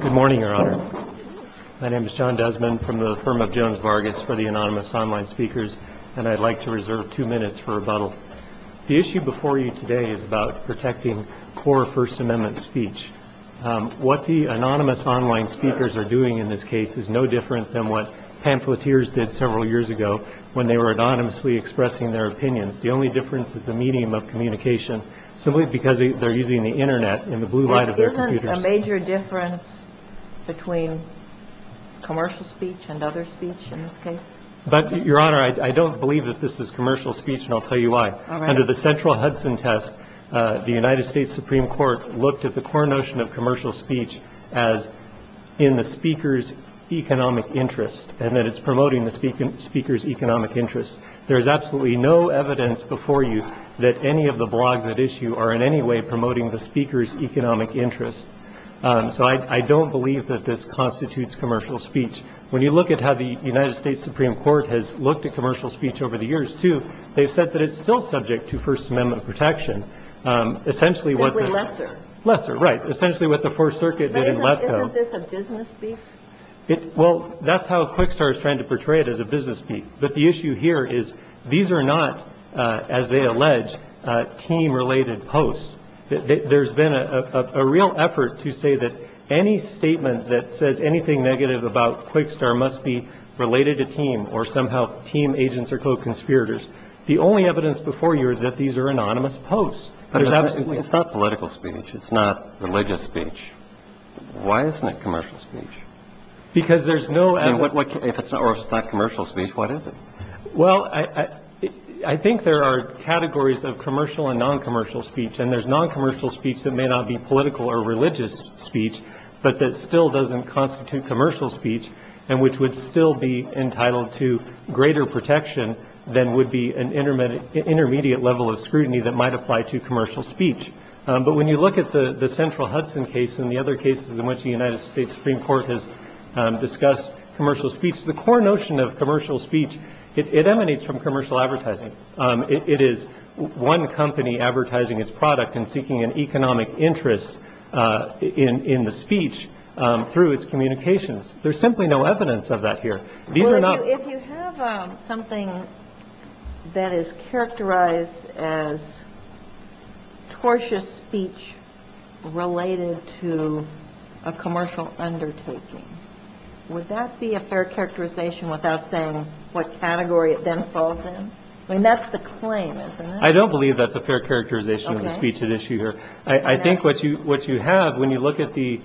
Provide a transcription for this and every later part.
Good morning, Your Honor. My name is John Desmond from the firm of Jones-Vargas for the Anonymous Online Speakers, and I'd like to reserve two minutes for rebuttal. The issue before you today is about protecting core First Amendment speech. What the Anonymous Online Speakers are doing in this case is no different than what pamphleteers did several years ago when they were anonymously expressing their opinions. The only difference is the medium of communication, simply because they're using the Internet in the blue light of their computers. Is there a major difference between commercial speech and other speech in this case? But, Your Honor, I don't believe that this is commercial speech, and I'll tell you why. All right. Under the central Hudson test, the United States Supreme Court looked at the core notion of commercial speech as in the speaker's economic interest, and that it's promoting the speaker's economic interest. There is absolutely no evidence before you that any of the blogs on that issue are in any way promoting the speaker's economic interest. So I don't believe that this constitutes commercial speech. When you look at how the United States Supreme Court has looked at commercial speech over the years, too, they've said that it's still subject to First Amendment protection, essentially what the – Simply lesser. Lesser, right. Essentially what the Fourth Circuit did in Letko. But isn't this a business speech? Well, that's how Quickstar is trying to portray it as a business speech. But the issue here is these are not, as they allege, team-related posts. There's been a real effort to say that any statement that says anything negative about Quickstar must be related to team or somehow team agents are co-conspirators. The only evidence before you is that these are anonymous posts. But it's not political speech. It's not religious speech. Why isn't it commercial speech? Because there's no – If it's not commercial speech, what is it? Well, I think there are categories of commercial and non-commercial speech. And there's non-commercial speech that may not be political or religious speech, but that still doesn't constitute commercial speech and which would still be entitled to greater protection than would be an intermediate level of scrutiny that might apply to commercial speech. But when you look at the Central Hudson case and the other cases in which the United States Supreme Court has discussed commercial speech, the core notion of commercial speech, it emanates from commercial advertising. It is one company advertising its product and seeking an economic interest in the speech through its communications. There's simply no evidence of that here. These are not – I don't believe that's a fair characterization of the speech at issue here. I think what you have, when you look at the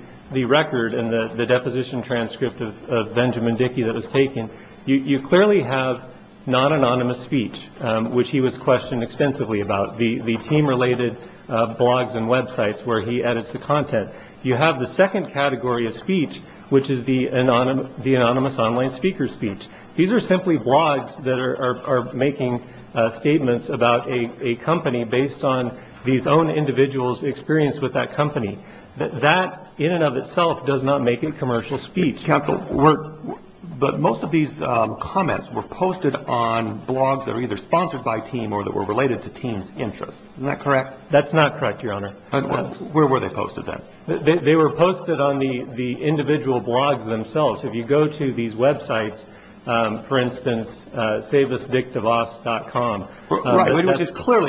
record and the deposition transcript of Benjamin Dickey that was taken, you clearly have non-anonymous speech, which he was questioned extensively about, the team-related blogs and websites where he edits the content. You have the second category of speech, which is the anonymous online speaker speech. These are simply blogs that are making statements about a company based on these own individuals' experience with that company. That, in and of itself, does not make it commercial speech. Mr. Counsel, but most of these comments were posted on blogs that were either sponsored by TEAM or that were related to TEAM's interests. Isn't that correct? That's not correct, Your Honor. Where were they posted, then? They were posted on the individual blogs themselves. If you go to these websites, for instance, SaveUsDickDeVos.com Right,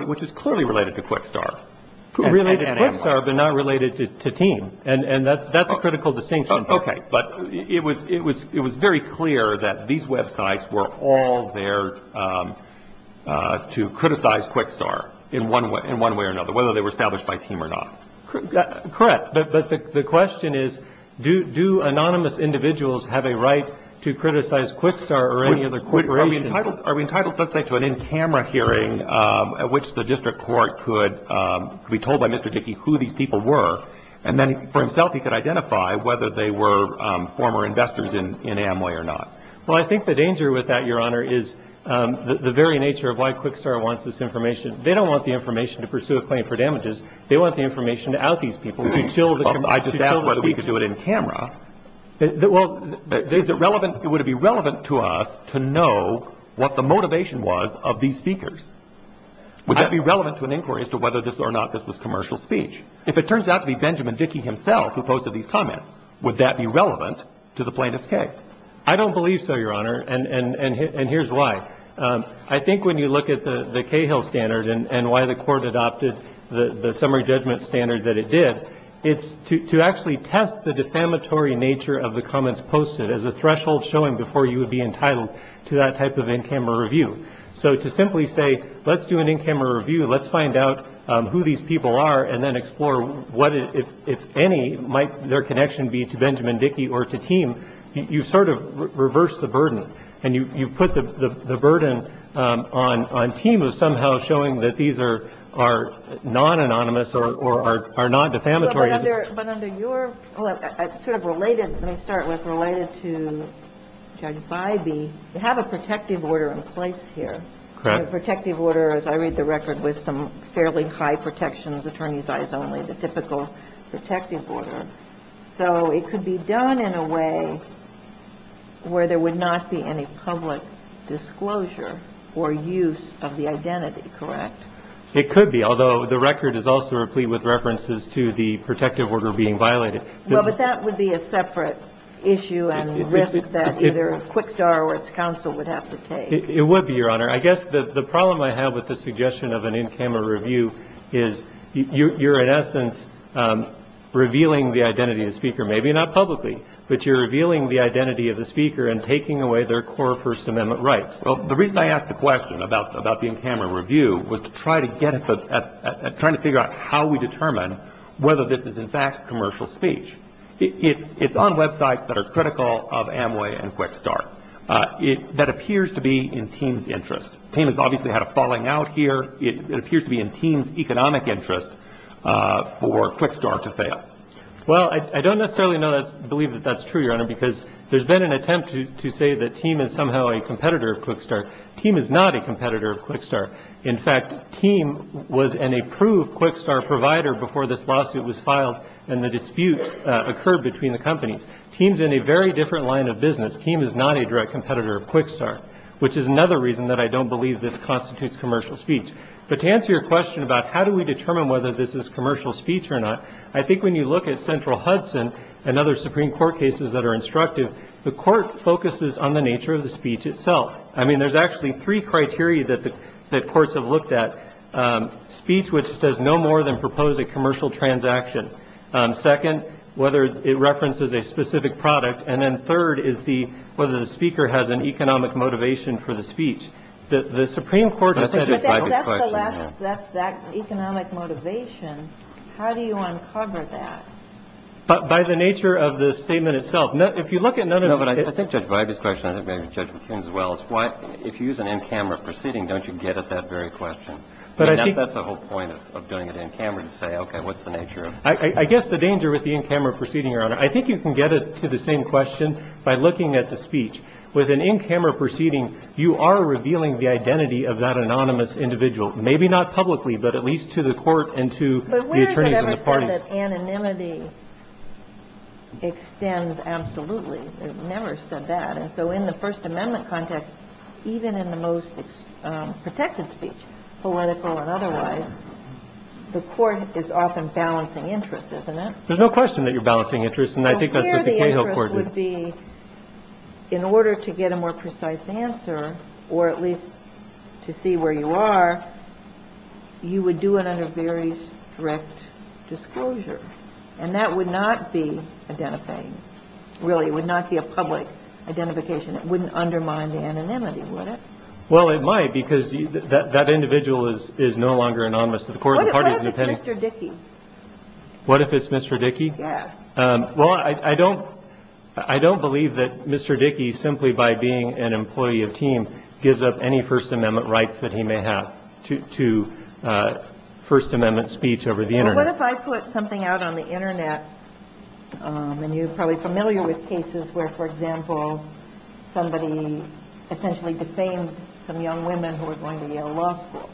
which is clearly related to Quick Start. Related to Quick Start, but not related to TEAM. And that's a critical distinction. Okay, but it was very clear that these websites were all there to criticize Quick Start in one way or another, whether they were established by TEAM or not. Correct, but the question is, do anonymous individuals have a right to criticize Quick Start or any other corporation? Are we entitled, let's say, to an in-camera hearing at which the district court could be told by Mr. Dickey who these people were, and then for himself he could identify whether they were former investors in Amway or not? Well, I think the danger with that, Your Honor, is the very nature of why Quick Start wants this information. They don't want the information to pursue a claim for damages. They want the information to out these people, to kill the speakers. I just asked whether we could do it in camera. Well, is it relevant, would it be relevant to us to know what the motivation was of these speakers? Would that be relevant to an inquiry as to whether this or not this was commercial speech? If it turns out to be Benjamin Dickey himself who posted these comments, would that be relevant to the plaintiff's case? I don't believe so, Your Honor, and here's why. I think when you look at the Cahill standard and why the court adopted the summary judgment standard that it did, it's to actually test the defamatory nature of the comments posted as a threshold showing before you would be entitled to that type of in-camera review. So to simply say, let's do an in-camera review, let's find out who these people are, and then explore what, if any, might their connection be to Benjamin Dickey or to Teem, you sort of reverse the burden, and you put the burden on Teem of somehow showing that these are non-anonymous or are non-defamatory. But under your sort of related, let me start with related to Judge Bybee, you have a protective order in place here. Correct. The protective order, as I read the record, was some fairly high protections, attorneys' eyes only, the typical protective order. So it could be done in a way where there would not be any public disclosure or use of the identity, correct? It could be, although the record is also replete with references to the protective order being violated. Well, but that would be a separate issue and risk that either Quickstar or its counsel would have to take. It would be, Your Honor. I guess the problem I have with the suggestion of an in-camera review is you're, in essence, revealing the identity of the speaker, maybe not publicly, but you're revealing the identity of the speaker and taking away their core First Amendment rights. Well, the reason I asked the question about the in-camera review was to try to get at trying to figure out how we determine whether this is, in fact, commercial speech. It's on websites that are critical of Amway and Quickstar that appears to be in Teem's interest. Teem has obviously had a falling out here. It appears to be in Teem's economic interest for Quickstar to fail. Well, I don't necessarily believe that that's true, Your Honor, because there's been an attempt to say that Teem is somehow a competitor of Quickstar. Teem is not a competitor of Quickstar. In fact, Teem was an approved Quickstar provider before this lawsuit was filed and the dispute occurred between the companies. Teem's in a very different line of business. Teem is not a direct competitor of Quickstar, which is another reason that I don't believe this constitutes commercial speech. But to answer your question about how do we determine whether this is commercial speech or not, I think when you look at Central Hudson and other Supreme Court cases that are instructive, the court focuses on the nature of the speech itself. I mean, there's actually three criteria that the courts have looked at. Speech, which does no more than propose a commercial transaction. Second, whether it references a specific product. And then third is the whether the speaker has an economic motivation for the speech. The Supreme Court has said that's that economic motivation. How do you uncover that? But by the nature of the statement itself, if you look at none of it, I think Judge McCune as well, is why if you use an in-camera proceeding, don't you get at that very question? But I think that's the whole point of doing it in-camera to say, OK, what's the nature of it? I guess the danger with the in-camera proceeding, Your Honor, I think you can get it to the same question by looking at the speech. With an in-camera proceeding, you are revealing the identity of that anonymous individual, maybe not publicly, but at least to the court and to the attorneys and the parties. But where has it ever said that anonymity extends? Absolutely. It never said that. And so in the First Amendment context, even in the most protected speech, political and otherwise, the court is often balancing interests, isn't it? There's no question that you're balancing interests. And I think that's what the Cahill Court would be. In order to get a more precise answer or at least to see where you are, you would do it under very strict disclosure and that would not be identifying. Really, it would not be a public identification. It wouldn't undermine the anonymity, would it? Well, it might because that individual is no longer anonymous to the court of the parties. What if it's Mr. Dickey? What if it's Mr. Dickey? Yeah. Well, I don't I don't believe that Mr. Dickey, simply by being an employee of TEAM, gives up any First Amendment rights that he may have to First Amendment speech over the Internet. What if I put something out on the Internet and you're probably familiar with cases where, for example, somebody essentially defamed some young women who were going to Yale Law School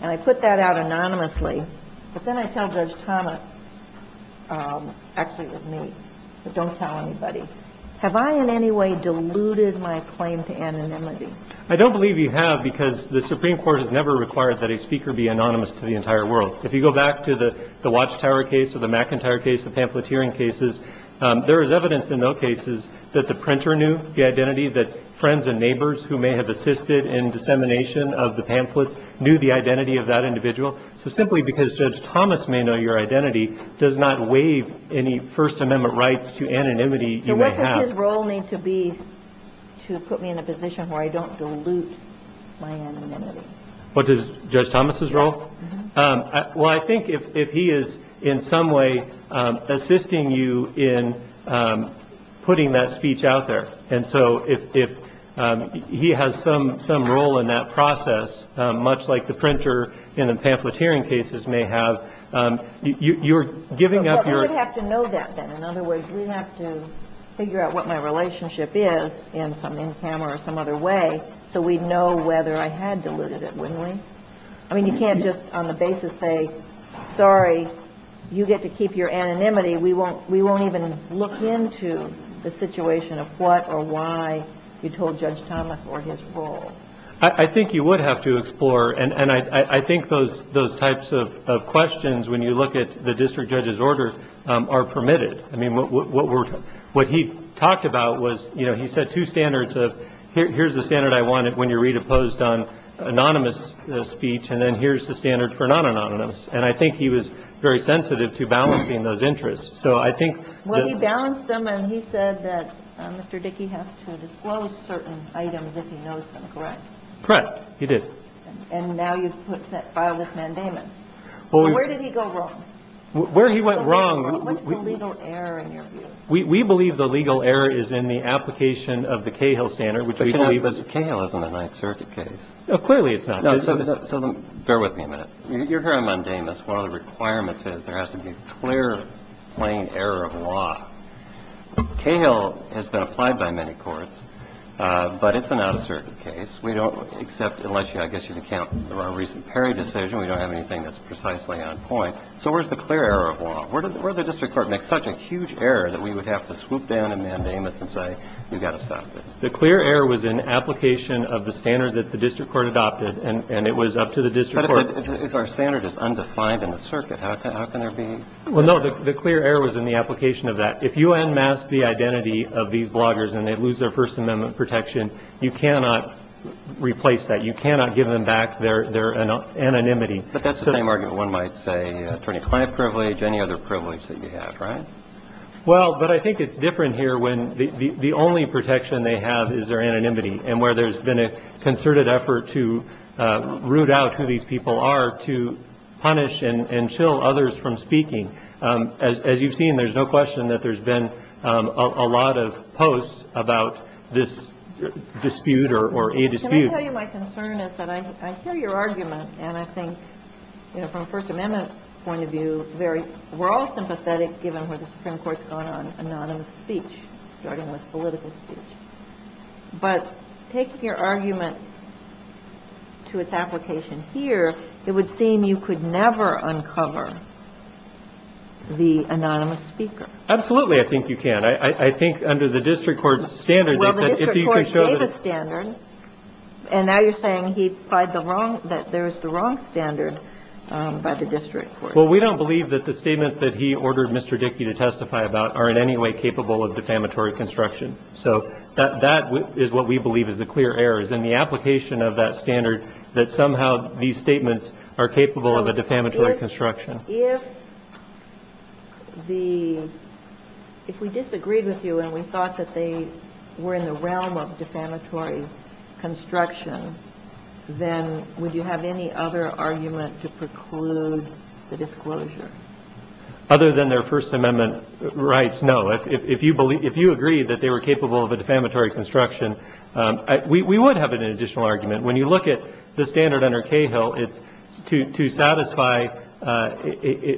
and I put that out anonymously, but then I tell Judge Thomas, actually, it was me, but don't tell anybody. Have I in any way diluted my claim to anonymity? I don't believe you have because the Supreme Court has never required that a speaker be anonymous to the entire world. If you go back to the Watchtower case or the McIntyre case, the pamphleteering cases, there is evidence in those cases that the printer knew the identity, that friends and neighbors who may have assisted in dissemination of the pamphlets knew the identity of that individual. So simply because Judge Thomas may know your identity does not waive any First Amendment rights to anonymity. So what does his role need to be to put me in a position where I don't dilute my anonymity? What is Judge Thomas's role? Well, I think if he is in some way assisting you in putting that speech out there. And so if he has some role in that process, much like the printer in the pamphleteering cases may have, you're giving up your... Well, we would have to know that then. In other words, we'd have to figure out what my relationship is in some, in camera or some other way, so we'd know whether I had diluted it, wouldn't we? I mean, you can't just on the basis say, sorry, you get to keep your anonymity. We won't, we won't even look into the situation of what or why you told Judge Thomas or his role. I think you would have to explore. And I think those types of questions, when you look at the district judge's orders are permitted. I mean, what he talked about was, you know, he set two standards of here's the imposed on anonymous speech, and then here's the standard for non-anonymous. And I think he was very sensitive to balancing those interests. So I think... Well, he balanced them and he said that Mr. Dickey has to disclose certain items if he knows them, correct? Correct, he did. And now you've filed this mandatement. Well, where did he go wrong? Where he went wrong... What's the legal error in your view? We believe the legal error is in the application of the Cahill standard, which Cahill isn't a Ninth Circuit case. No, clearly it's not. So bear with me a minute. You're hearing mandamus. One of the requirements is there has to be clear, plain error of law. Cahill has been applied by many courts, but it's an out-of-circuit case. We don't accept, unless you, I guess you can count the more recent Perry decision. We don't have anything that's precisely on point. So where's the clear error of law? Where did the district court make such a huge error that we would have to swoop down and mandamus and say, you've got to stop this. The clear error was in application of the standard that the district court adopted, and it was up to the district court. But if our standard is undefined in the circuit, how can there be... Well, no, the clear error was in the application of that. If you unmask the identity of these bloggers and they lose their first amendment protection, you cannot replace that. You cannot give them back their anonymity. But that's the same argument one might say, attorney-client privilege, any other privilege that you have, right? Well, but I think it's different here when the only protection they have is their anonymity and where there's been a concerted effort to root out who these people are to punish and chill others from speaking. As you've seen, there's no question that there's been a lot of posts about this dispute or a dispute. Can I tell you my concern is that I hear your argument and I think, you know, from the Supreme Court's gone on, anonymous speech, starting with political speech. But taking your argument to its application here, it would seem you could never uncover the anonymous speaker. Absolutely. I think you can. I think under the district court's standard, they said, if you can show... Well, the district court gave a standard, and now you're saying he applied the wrong, that there was the wrong standard by the district court. Well, we don't believe that the statements that he ordered Mr. Dickey to testify about are in any way capable of defamatory construction. So that is what we believe is the clear errors in the application of that standard that somehow these statements are capable of a defamatory construction. If we disagreed with you and we thought that they were in the realm of defamatory construction, then would you have any other argument to preclude the disclosure? Other than their First Amendment rights, no. If you believe, if you agree that they were capable of a defamatory construction, we would have an additional argument. When you look at the standard under Cahill, it's to satisfy,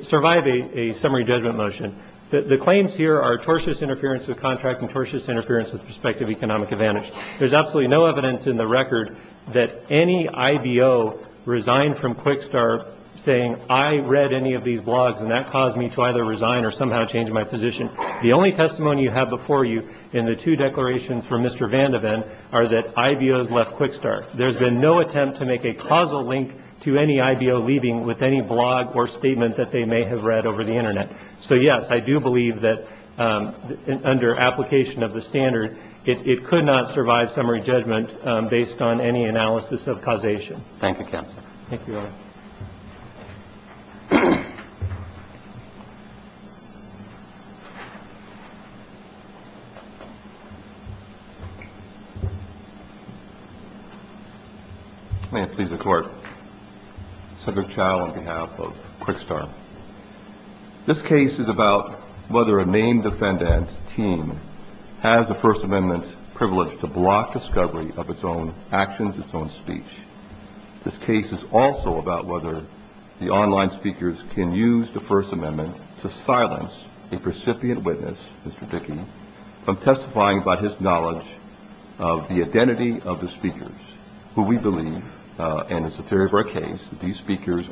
survive a summary judgment motion. The claims here are tortious interference with contract and tortious interference with prospective economic advantage. There's absolutely no evidence in the record that any IBO resigned from Quickstar saying, I read any of these blogs and that caused me to either resign or somehow change my position. The only testimony you have before you in the two declarations from Mr. Vandeven are that IBOs left Quickstar. There's been no attempt to make a causal link to any IBO leaving with any blog or statement that they may have read over the internet. So yes, I do believe that under application of the standard, it could not survive summary judgment based on any analysis of causation. Thank you, counsel. Thank you, Your Honor. May it please the Court, Senator Chau on behalf of Quickstar. This case is about whether a named defendant's team has the First Amendment privilege to block discovery of its own actions, its own speech. This case is also about whether the online speakers can use the First Amendment to silence a recipient witness, Mr. Dickey, from testifying by his knowledge of the identity of the speakers who we believe, and it's a theory of our case, these members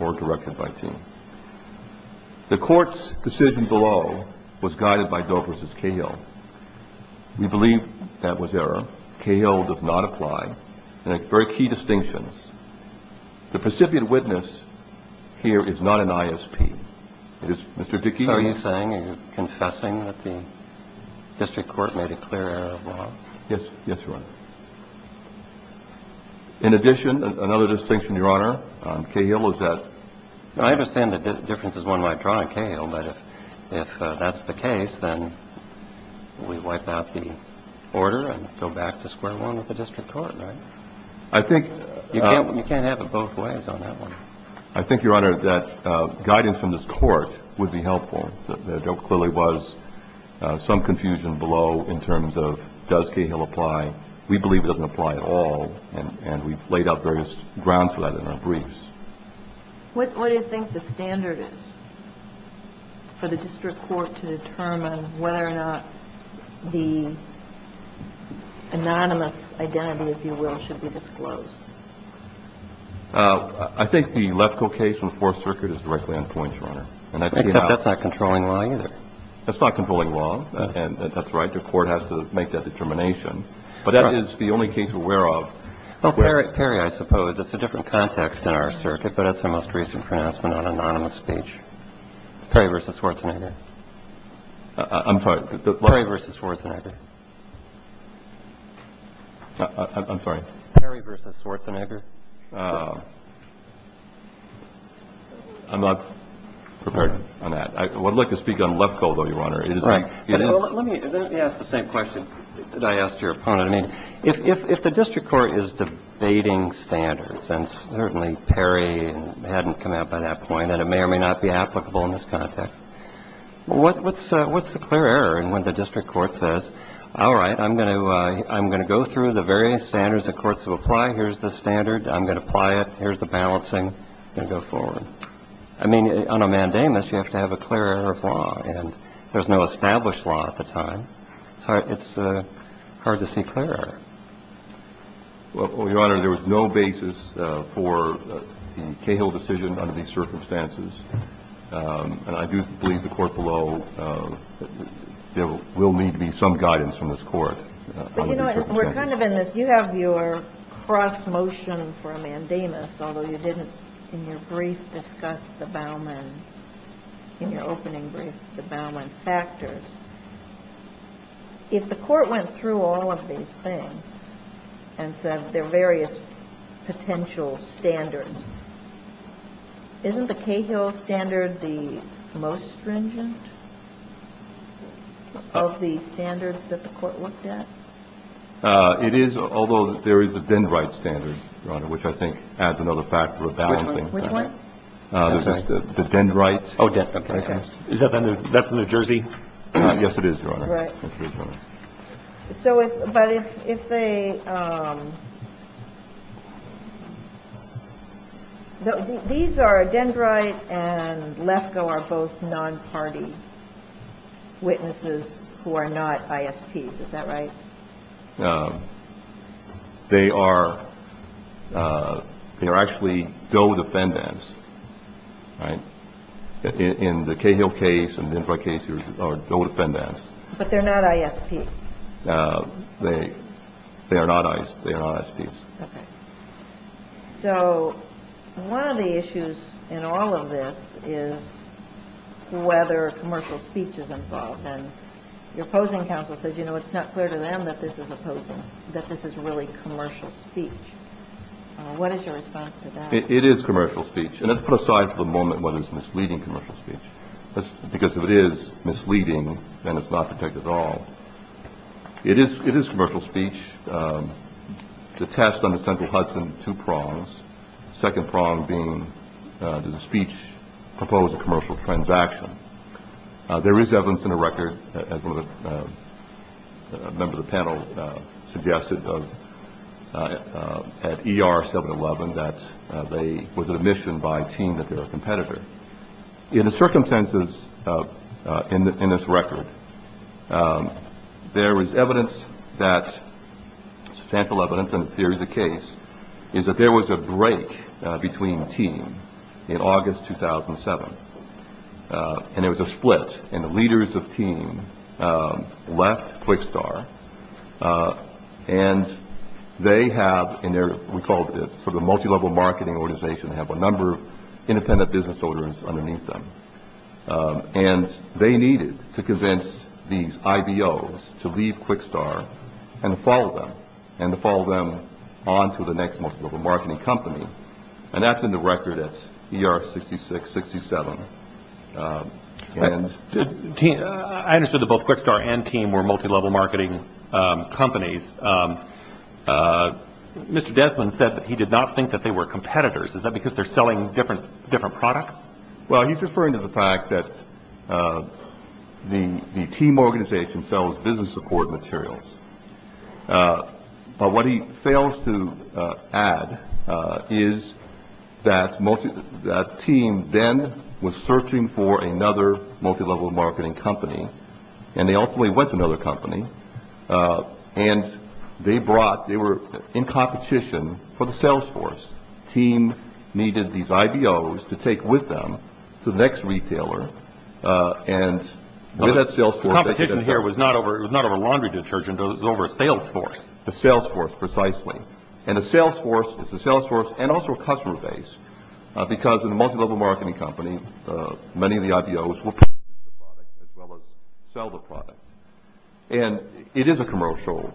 or directed by team. The court's decision below was guided by Dover's as Cahill. We believe that was error. Cahill does not apply. And a very key distinctions, the recipient witness here is not an ISP. It is Mr. Dickey. So are you saying, are you confessing that the district court made a clear error of law? Yes. Yes, Your Honor. In addition, another distinction, Your Honor, Cahill is that. I understand the difference is one might draw on Cahill, but if that's the case, then we wipe out the order and go back to square one with the district court, right? I think. You can't have it both ways on that one. I think, Your Honor, that guidance from this court would be helpful. There clearly was some confusion below in terms of does Cahill apply? We believe he doesn't apply. He doesn't apply at all. And we've laid out various grounds for that in our briefs. What do you think the standard is for the district court to determine whether or not the anonymous identity, if you will, should be disclosed? I think the electrical case from the Fourth Circuit is directly on point, Your Honor. Except that's not controlling law either. That's not controlling law. And that's right. Your court has to make that determination. But that is the only case we're aware of. Well, Perry, I suppose, it's a different context in our circuit, but that's the most recent pronouncement on anonymous speech. Perry v. Schwarzenegger. I'm sorry. Perry v. Schwarzenegger. I'm sorry. Perry v. Schwarzenegger. I'm not prepared on that. I would like to speak on Lefkoe, though, Your Honor. Right. Let me ask the same question that I asked you. I mean, if the district court is debating standards, and certainly Perry hadn't come out by that point, and it may or may not be applicable in this context, what's the clear error in when the district court says, all right, I'm going to go through the various standards the courts will apply. Here's the standard. I'm going to apply it. Here's the balancing. I'm going to go forward. I mean, on a mandamus, you have to have a clear error of law. And there's no established law at the time. So it's hard to see clear error. Well, Your Honor, there was no basis for the Cahill decision under these circumstances. And I do believe the court below, there will need to be some guidance from this court. But you know what? We're kind of in this. You have your cross motion for a mandamus, although you didn't in your brief discuss the Bauman, in your opening brief, the Bauman factors. If the court went through all of these things and said there are various potential standards, isn't the Cahill standard the most stringent of the standards that the court looked at? It is, although there is a Dendrite standard, Your Honor, which I think adds another factor of balancing. Which one? The Dendrite. Oh, okay. Is that from New Jersey? Yes, it is, Your Honor. Right. So if, but if, if they, these are Dendrite and Lefkoe are both non-party witnesses who are not ISPs, is that right? They are, they are actually DOE defendants, right? In the Cahill case and the Dendrite case, they are DOE defendants. But they're not ISPs. They, they are not ISPs. They are not ISPs. Okay. So one of the issues in all of this is whether commercial speech is involved. And your opposing counsel says, you know, it's not clear to them that this is opposing, that this is really commercial speech. What is your response to that? It is commercial speech. And let's put aside for the moment what is misleading commercial speech, because if it is misleading, then it's not protected at all. It is, it is commercial speech. The test on the central Hudson, two prongs. Second prong being, does the speech propose a commercial transaction? There is evidence in the record, as one of the, a member of the panel suggested at ER 711, that they was an admission by a team that they were a competitor. In the circumstances in this record, there is evidence that, substantial evidence in the theory of the case, is that there was a break between team in August 2007. And there was a split. And the leaders of team left QuickStar. And they have in their, we call it sort of a multi-level marketing organization. They have a number of independent business owners underneath them. And they needed to convince these IBOs to leave QuickStar and follow them. And to follow them on to the next multi-level marketing company. And that's in the record at ER 6667. I understood that both QuickStar and team were multi-level marketing companies. Mr. Desmond said that he did not think that they were competitors. Is that because they're selling different products? Well, he's referring to the fact that the team organization sells business support materials. But what he fails to add is that team then was searching for another multi-level marketing company. And they ultimately went to another company. And they brought, they were in competition for the sales force. Team needed these IBOs to take with them to the next retailer. And with that sales force. The competition here was not over laundry detergent. It was over a sales force. A sales force, precisely. And a sales force is a sales force and also a customer base. Because in a multi-level marketing company, many of the IBOs will purchase the product as well as sell the product. And it is a commercial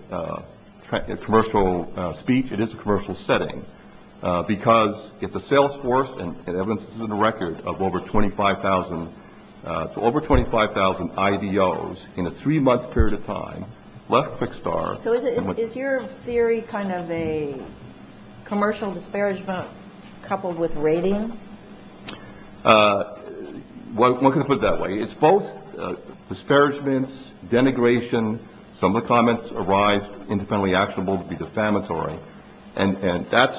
speech. It is a commercial setting. Because it's a sales force and evidence is in the record of over 25,000. So over 25,000 IBOs in a three-month period of time left QuickStar. So is your theory kind of a commercial disparagement coupled with rating? One can put it that way. It's both disparagements, denigration. Some of the comments arise independently actionable to be defamatory. And that's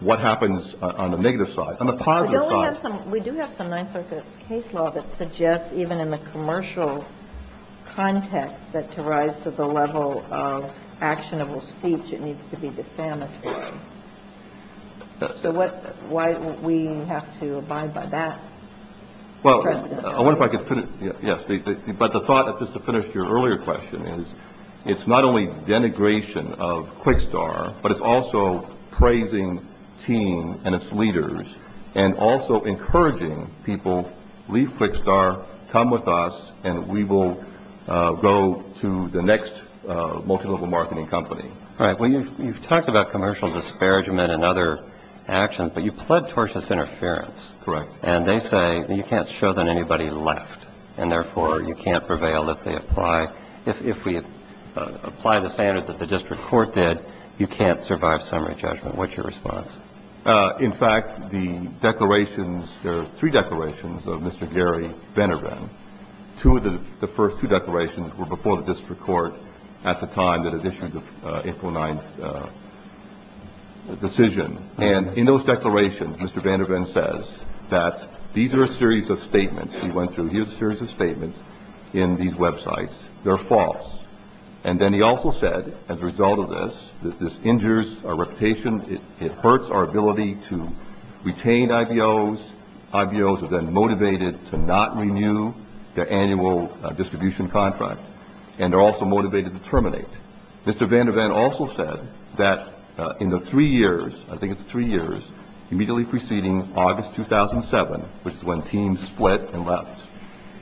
what happens on the negative side. On the positive side. We do have some Ninth Circuit case law that suggests even in the commercial context that to rise to the level of actionable speech it needs to be defamatory. So why would we have to abide by that? Well, I wonder if I could finish. But the thought, just to finish your earlier question, is it's not only denigration of QuickStar, but it's also praising team and its leaders and also encouraging people, leave QuickStar, come with us, and we will go to the next multi-level marketing company. All right. Well, you've talked about commercial disparagement and other actions. But you pled towards this interference. Correct. And they say you can't show that anybody left. And, therefore, you can't prevail if they apply. If we apply the standard that the district court did, you can't survive summary judgment. What's your response? In fact, the declarations, there are three declarations of Mr. Gary Vandervan. Two of the first two declarations were before the district court at the time that it issued the April 9th decision. And in those declarations, Mr. Vandervan says that these are a series of statements he went through. Here's a series of statements in these websites. They're false. And then he also said, as a result of this, that this injures our reputation. It hurts our ability to retain IBOs. IBOs are then motivated to not renew their annual distribution contract. And they're also motivated to terminate. Mr. Vandervan also said that in the three years, I think it's three years, immediately preceding August 2007, which is when TEAM split and left,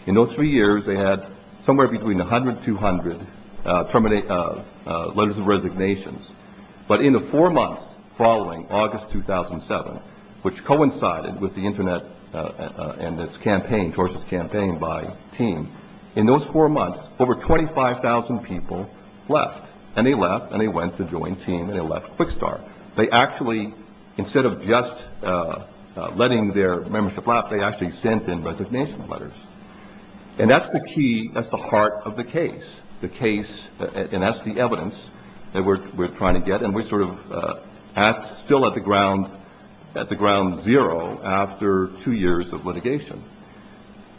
in those three years they had somewhere between 100 and 200 letters of resignations. But in the four months following August 2007, which coincided with the Internet and its campaign, by TEAM, in those four months, over 25,000 people left. And they left, and they went to join TEAM, and they left QuickStart. They actually, instead of just letting their membership lapse, they actually sent in resignation letters. And that's the key, that's the heart of the case. And that's the evidence that we're trying to get. And we're sort of still at the ground zero after two years of litigation.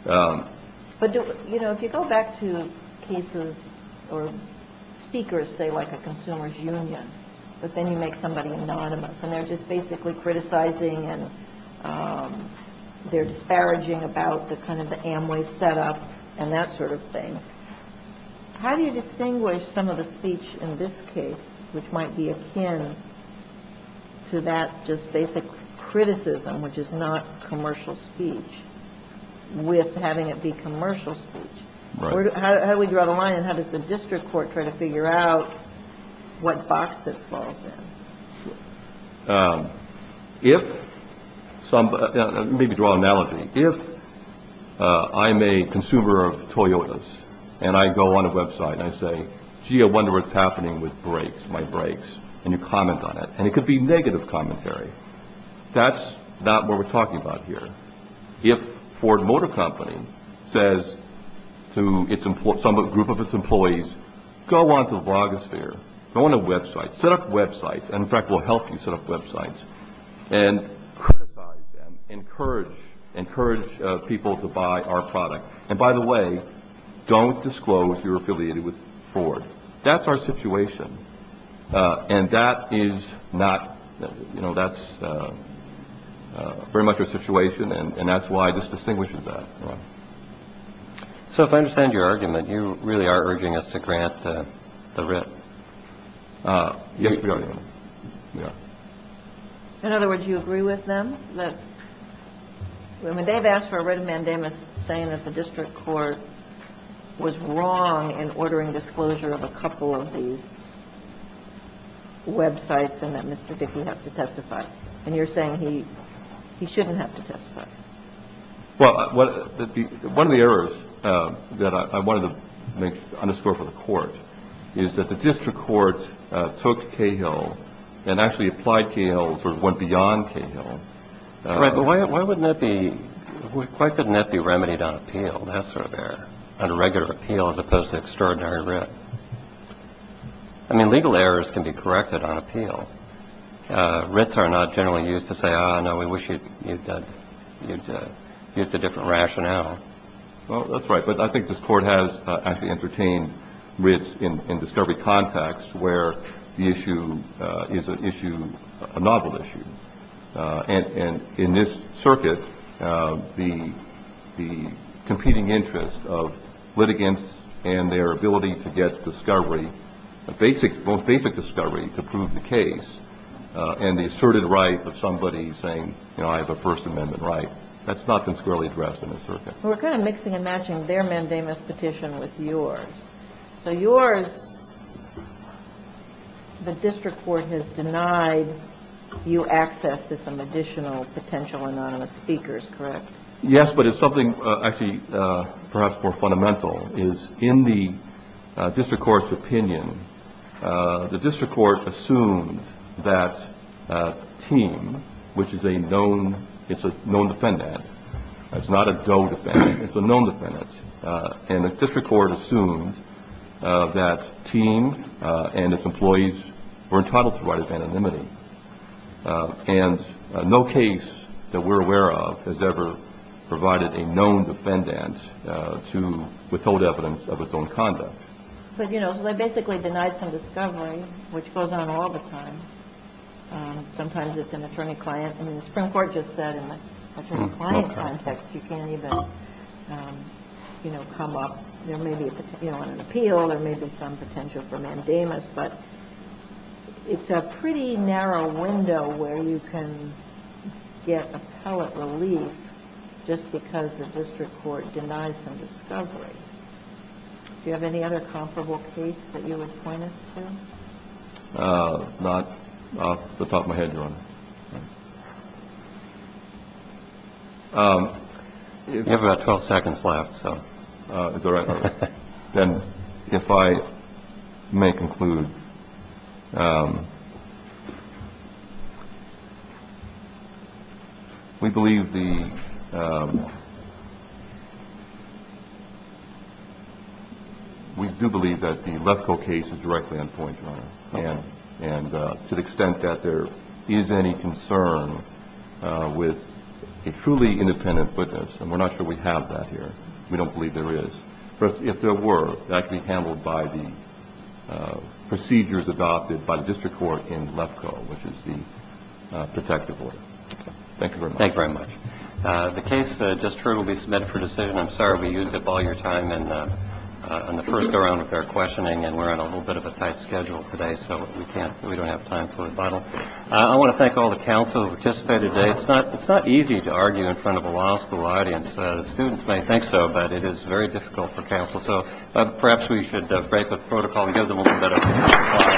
But, you know, if you go back to cases where speakers say, like, a consumer's union, but then you make somebody anonymous and they're just basically criticizing and they're disparaging about the kind of the Amway setup and that sort of thing, how do you distinguish some of the speech in this case, which might be akin to that just basic criticism, which is not commercial speech, with having it be commercial speech? How do we draw the line, and how does the district court try to figure out what box it falls in? Let me draw an analogy. If I'm a consumer of Toyotas, and I go on a website and I say, gee, I wonder what's happening with my brakes, and you comment on it. And it could be negative commentary. That's not what we're talking about here. Go on to the blogosphere. Go on a website. Set up websites. In fact, we'll help you set up websites. And criticize them. Encourage people to buy our product. And by the way, don't disclose you're affiliated with Ford. That's our situation. And that is not, you know, that's very much our situation. And that's why this distinguishes us. So if I understand your argument, you really are urging us to grant the writ. Yes, we are. In other words, you agree with them? I mean, they've asked for a writ of mandamus saying that the district court was wrong in ordering disclosure of a couple of these websites and that Mr. Dickey has to testify. And you're saying he shouldn't have to testify. Well, one of the errors that I wanted to underscore for the court is that the district court took Cahill and actually applied Cahill and sort of went beyond Cahill. Right, but why couldn't that be remedied on appeal, that sort of error, under regular appeal as opposed to extraordinary writ? I mean, legal errors can be corrected on appeal. Writs are not generally used to say, ah, no, we wish you'd used a different rationale. Well, that's right. But I think this court has actually entertained writs in discovery context where the issue is a novel issue. And in this circuit, the competing interest of litigants and their ability to get discovery, both basic discovery to prove the case and the asserted right of somebody saying, you know, I have a First Amendment right, that's not consquirely addressed in this circuit. We're kind of mixing and matching their mandamus petition with yours. So yours, the district court has denied you access to some additional potential anonymous speakers, correct? Yes, but it's something actually perhaps more fundamental, is in the district court's opinion, the district court assumed that Teem, which is a known defendant, it's not a go defendant, it's a known defendant, and the district court assumed that Teem and its employees were entitled to write as anonymity. And no case that we're aware of has ever provided a known defendant to withhold evidence of its own conduct. But, you know, they basically denied some discovery, which goes on all the time. Sometimes it's an attorney-client. I mean, the Supreme Court just said in the attorney-client context you can't even, you know, come up. There may be, you know, an appeal, there may be some potential for mandamus, but it's a pretty narrow window where you can get appellate relief just because the district court denied some discovery. Do you have any other comparable case that you would point us to? Not off the top of my head, Your Honor. You have about 12 seconds left, so is that all right? Then if I may conclude, we believe the ‑‑ we do believe that the Lefko case is directly on point, Your Honor. And to the extent that there is any concern with a truly independent witness, and we're not sure we have that here, we don't believe there is, but if there were, that could be handled by the procedures adopted by the district court in Lefko, which is the protective order. Thank you very much. Thank you very much. The case just heard will be submitted for decision. I'm sorry we used up all your time in the first go-round with our questioning, and we're on a little bit of a tight schedule today, so we don't have time for rebuttal. I want to thank all the counsel who participated today. It's not easy to argue in front of a law school audience. The students may think so, but it is very difficult for counsel. So perhaps we should break the protocol and give them a little bit of applause.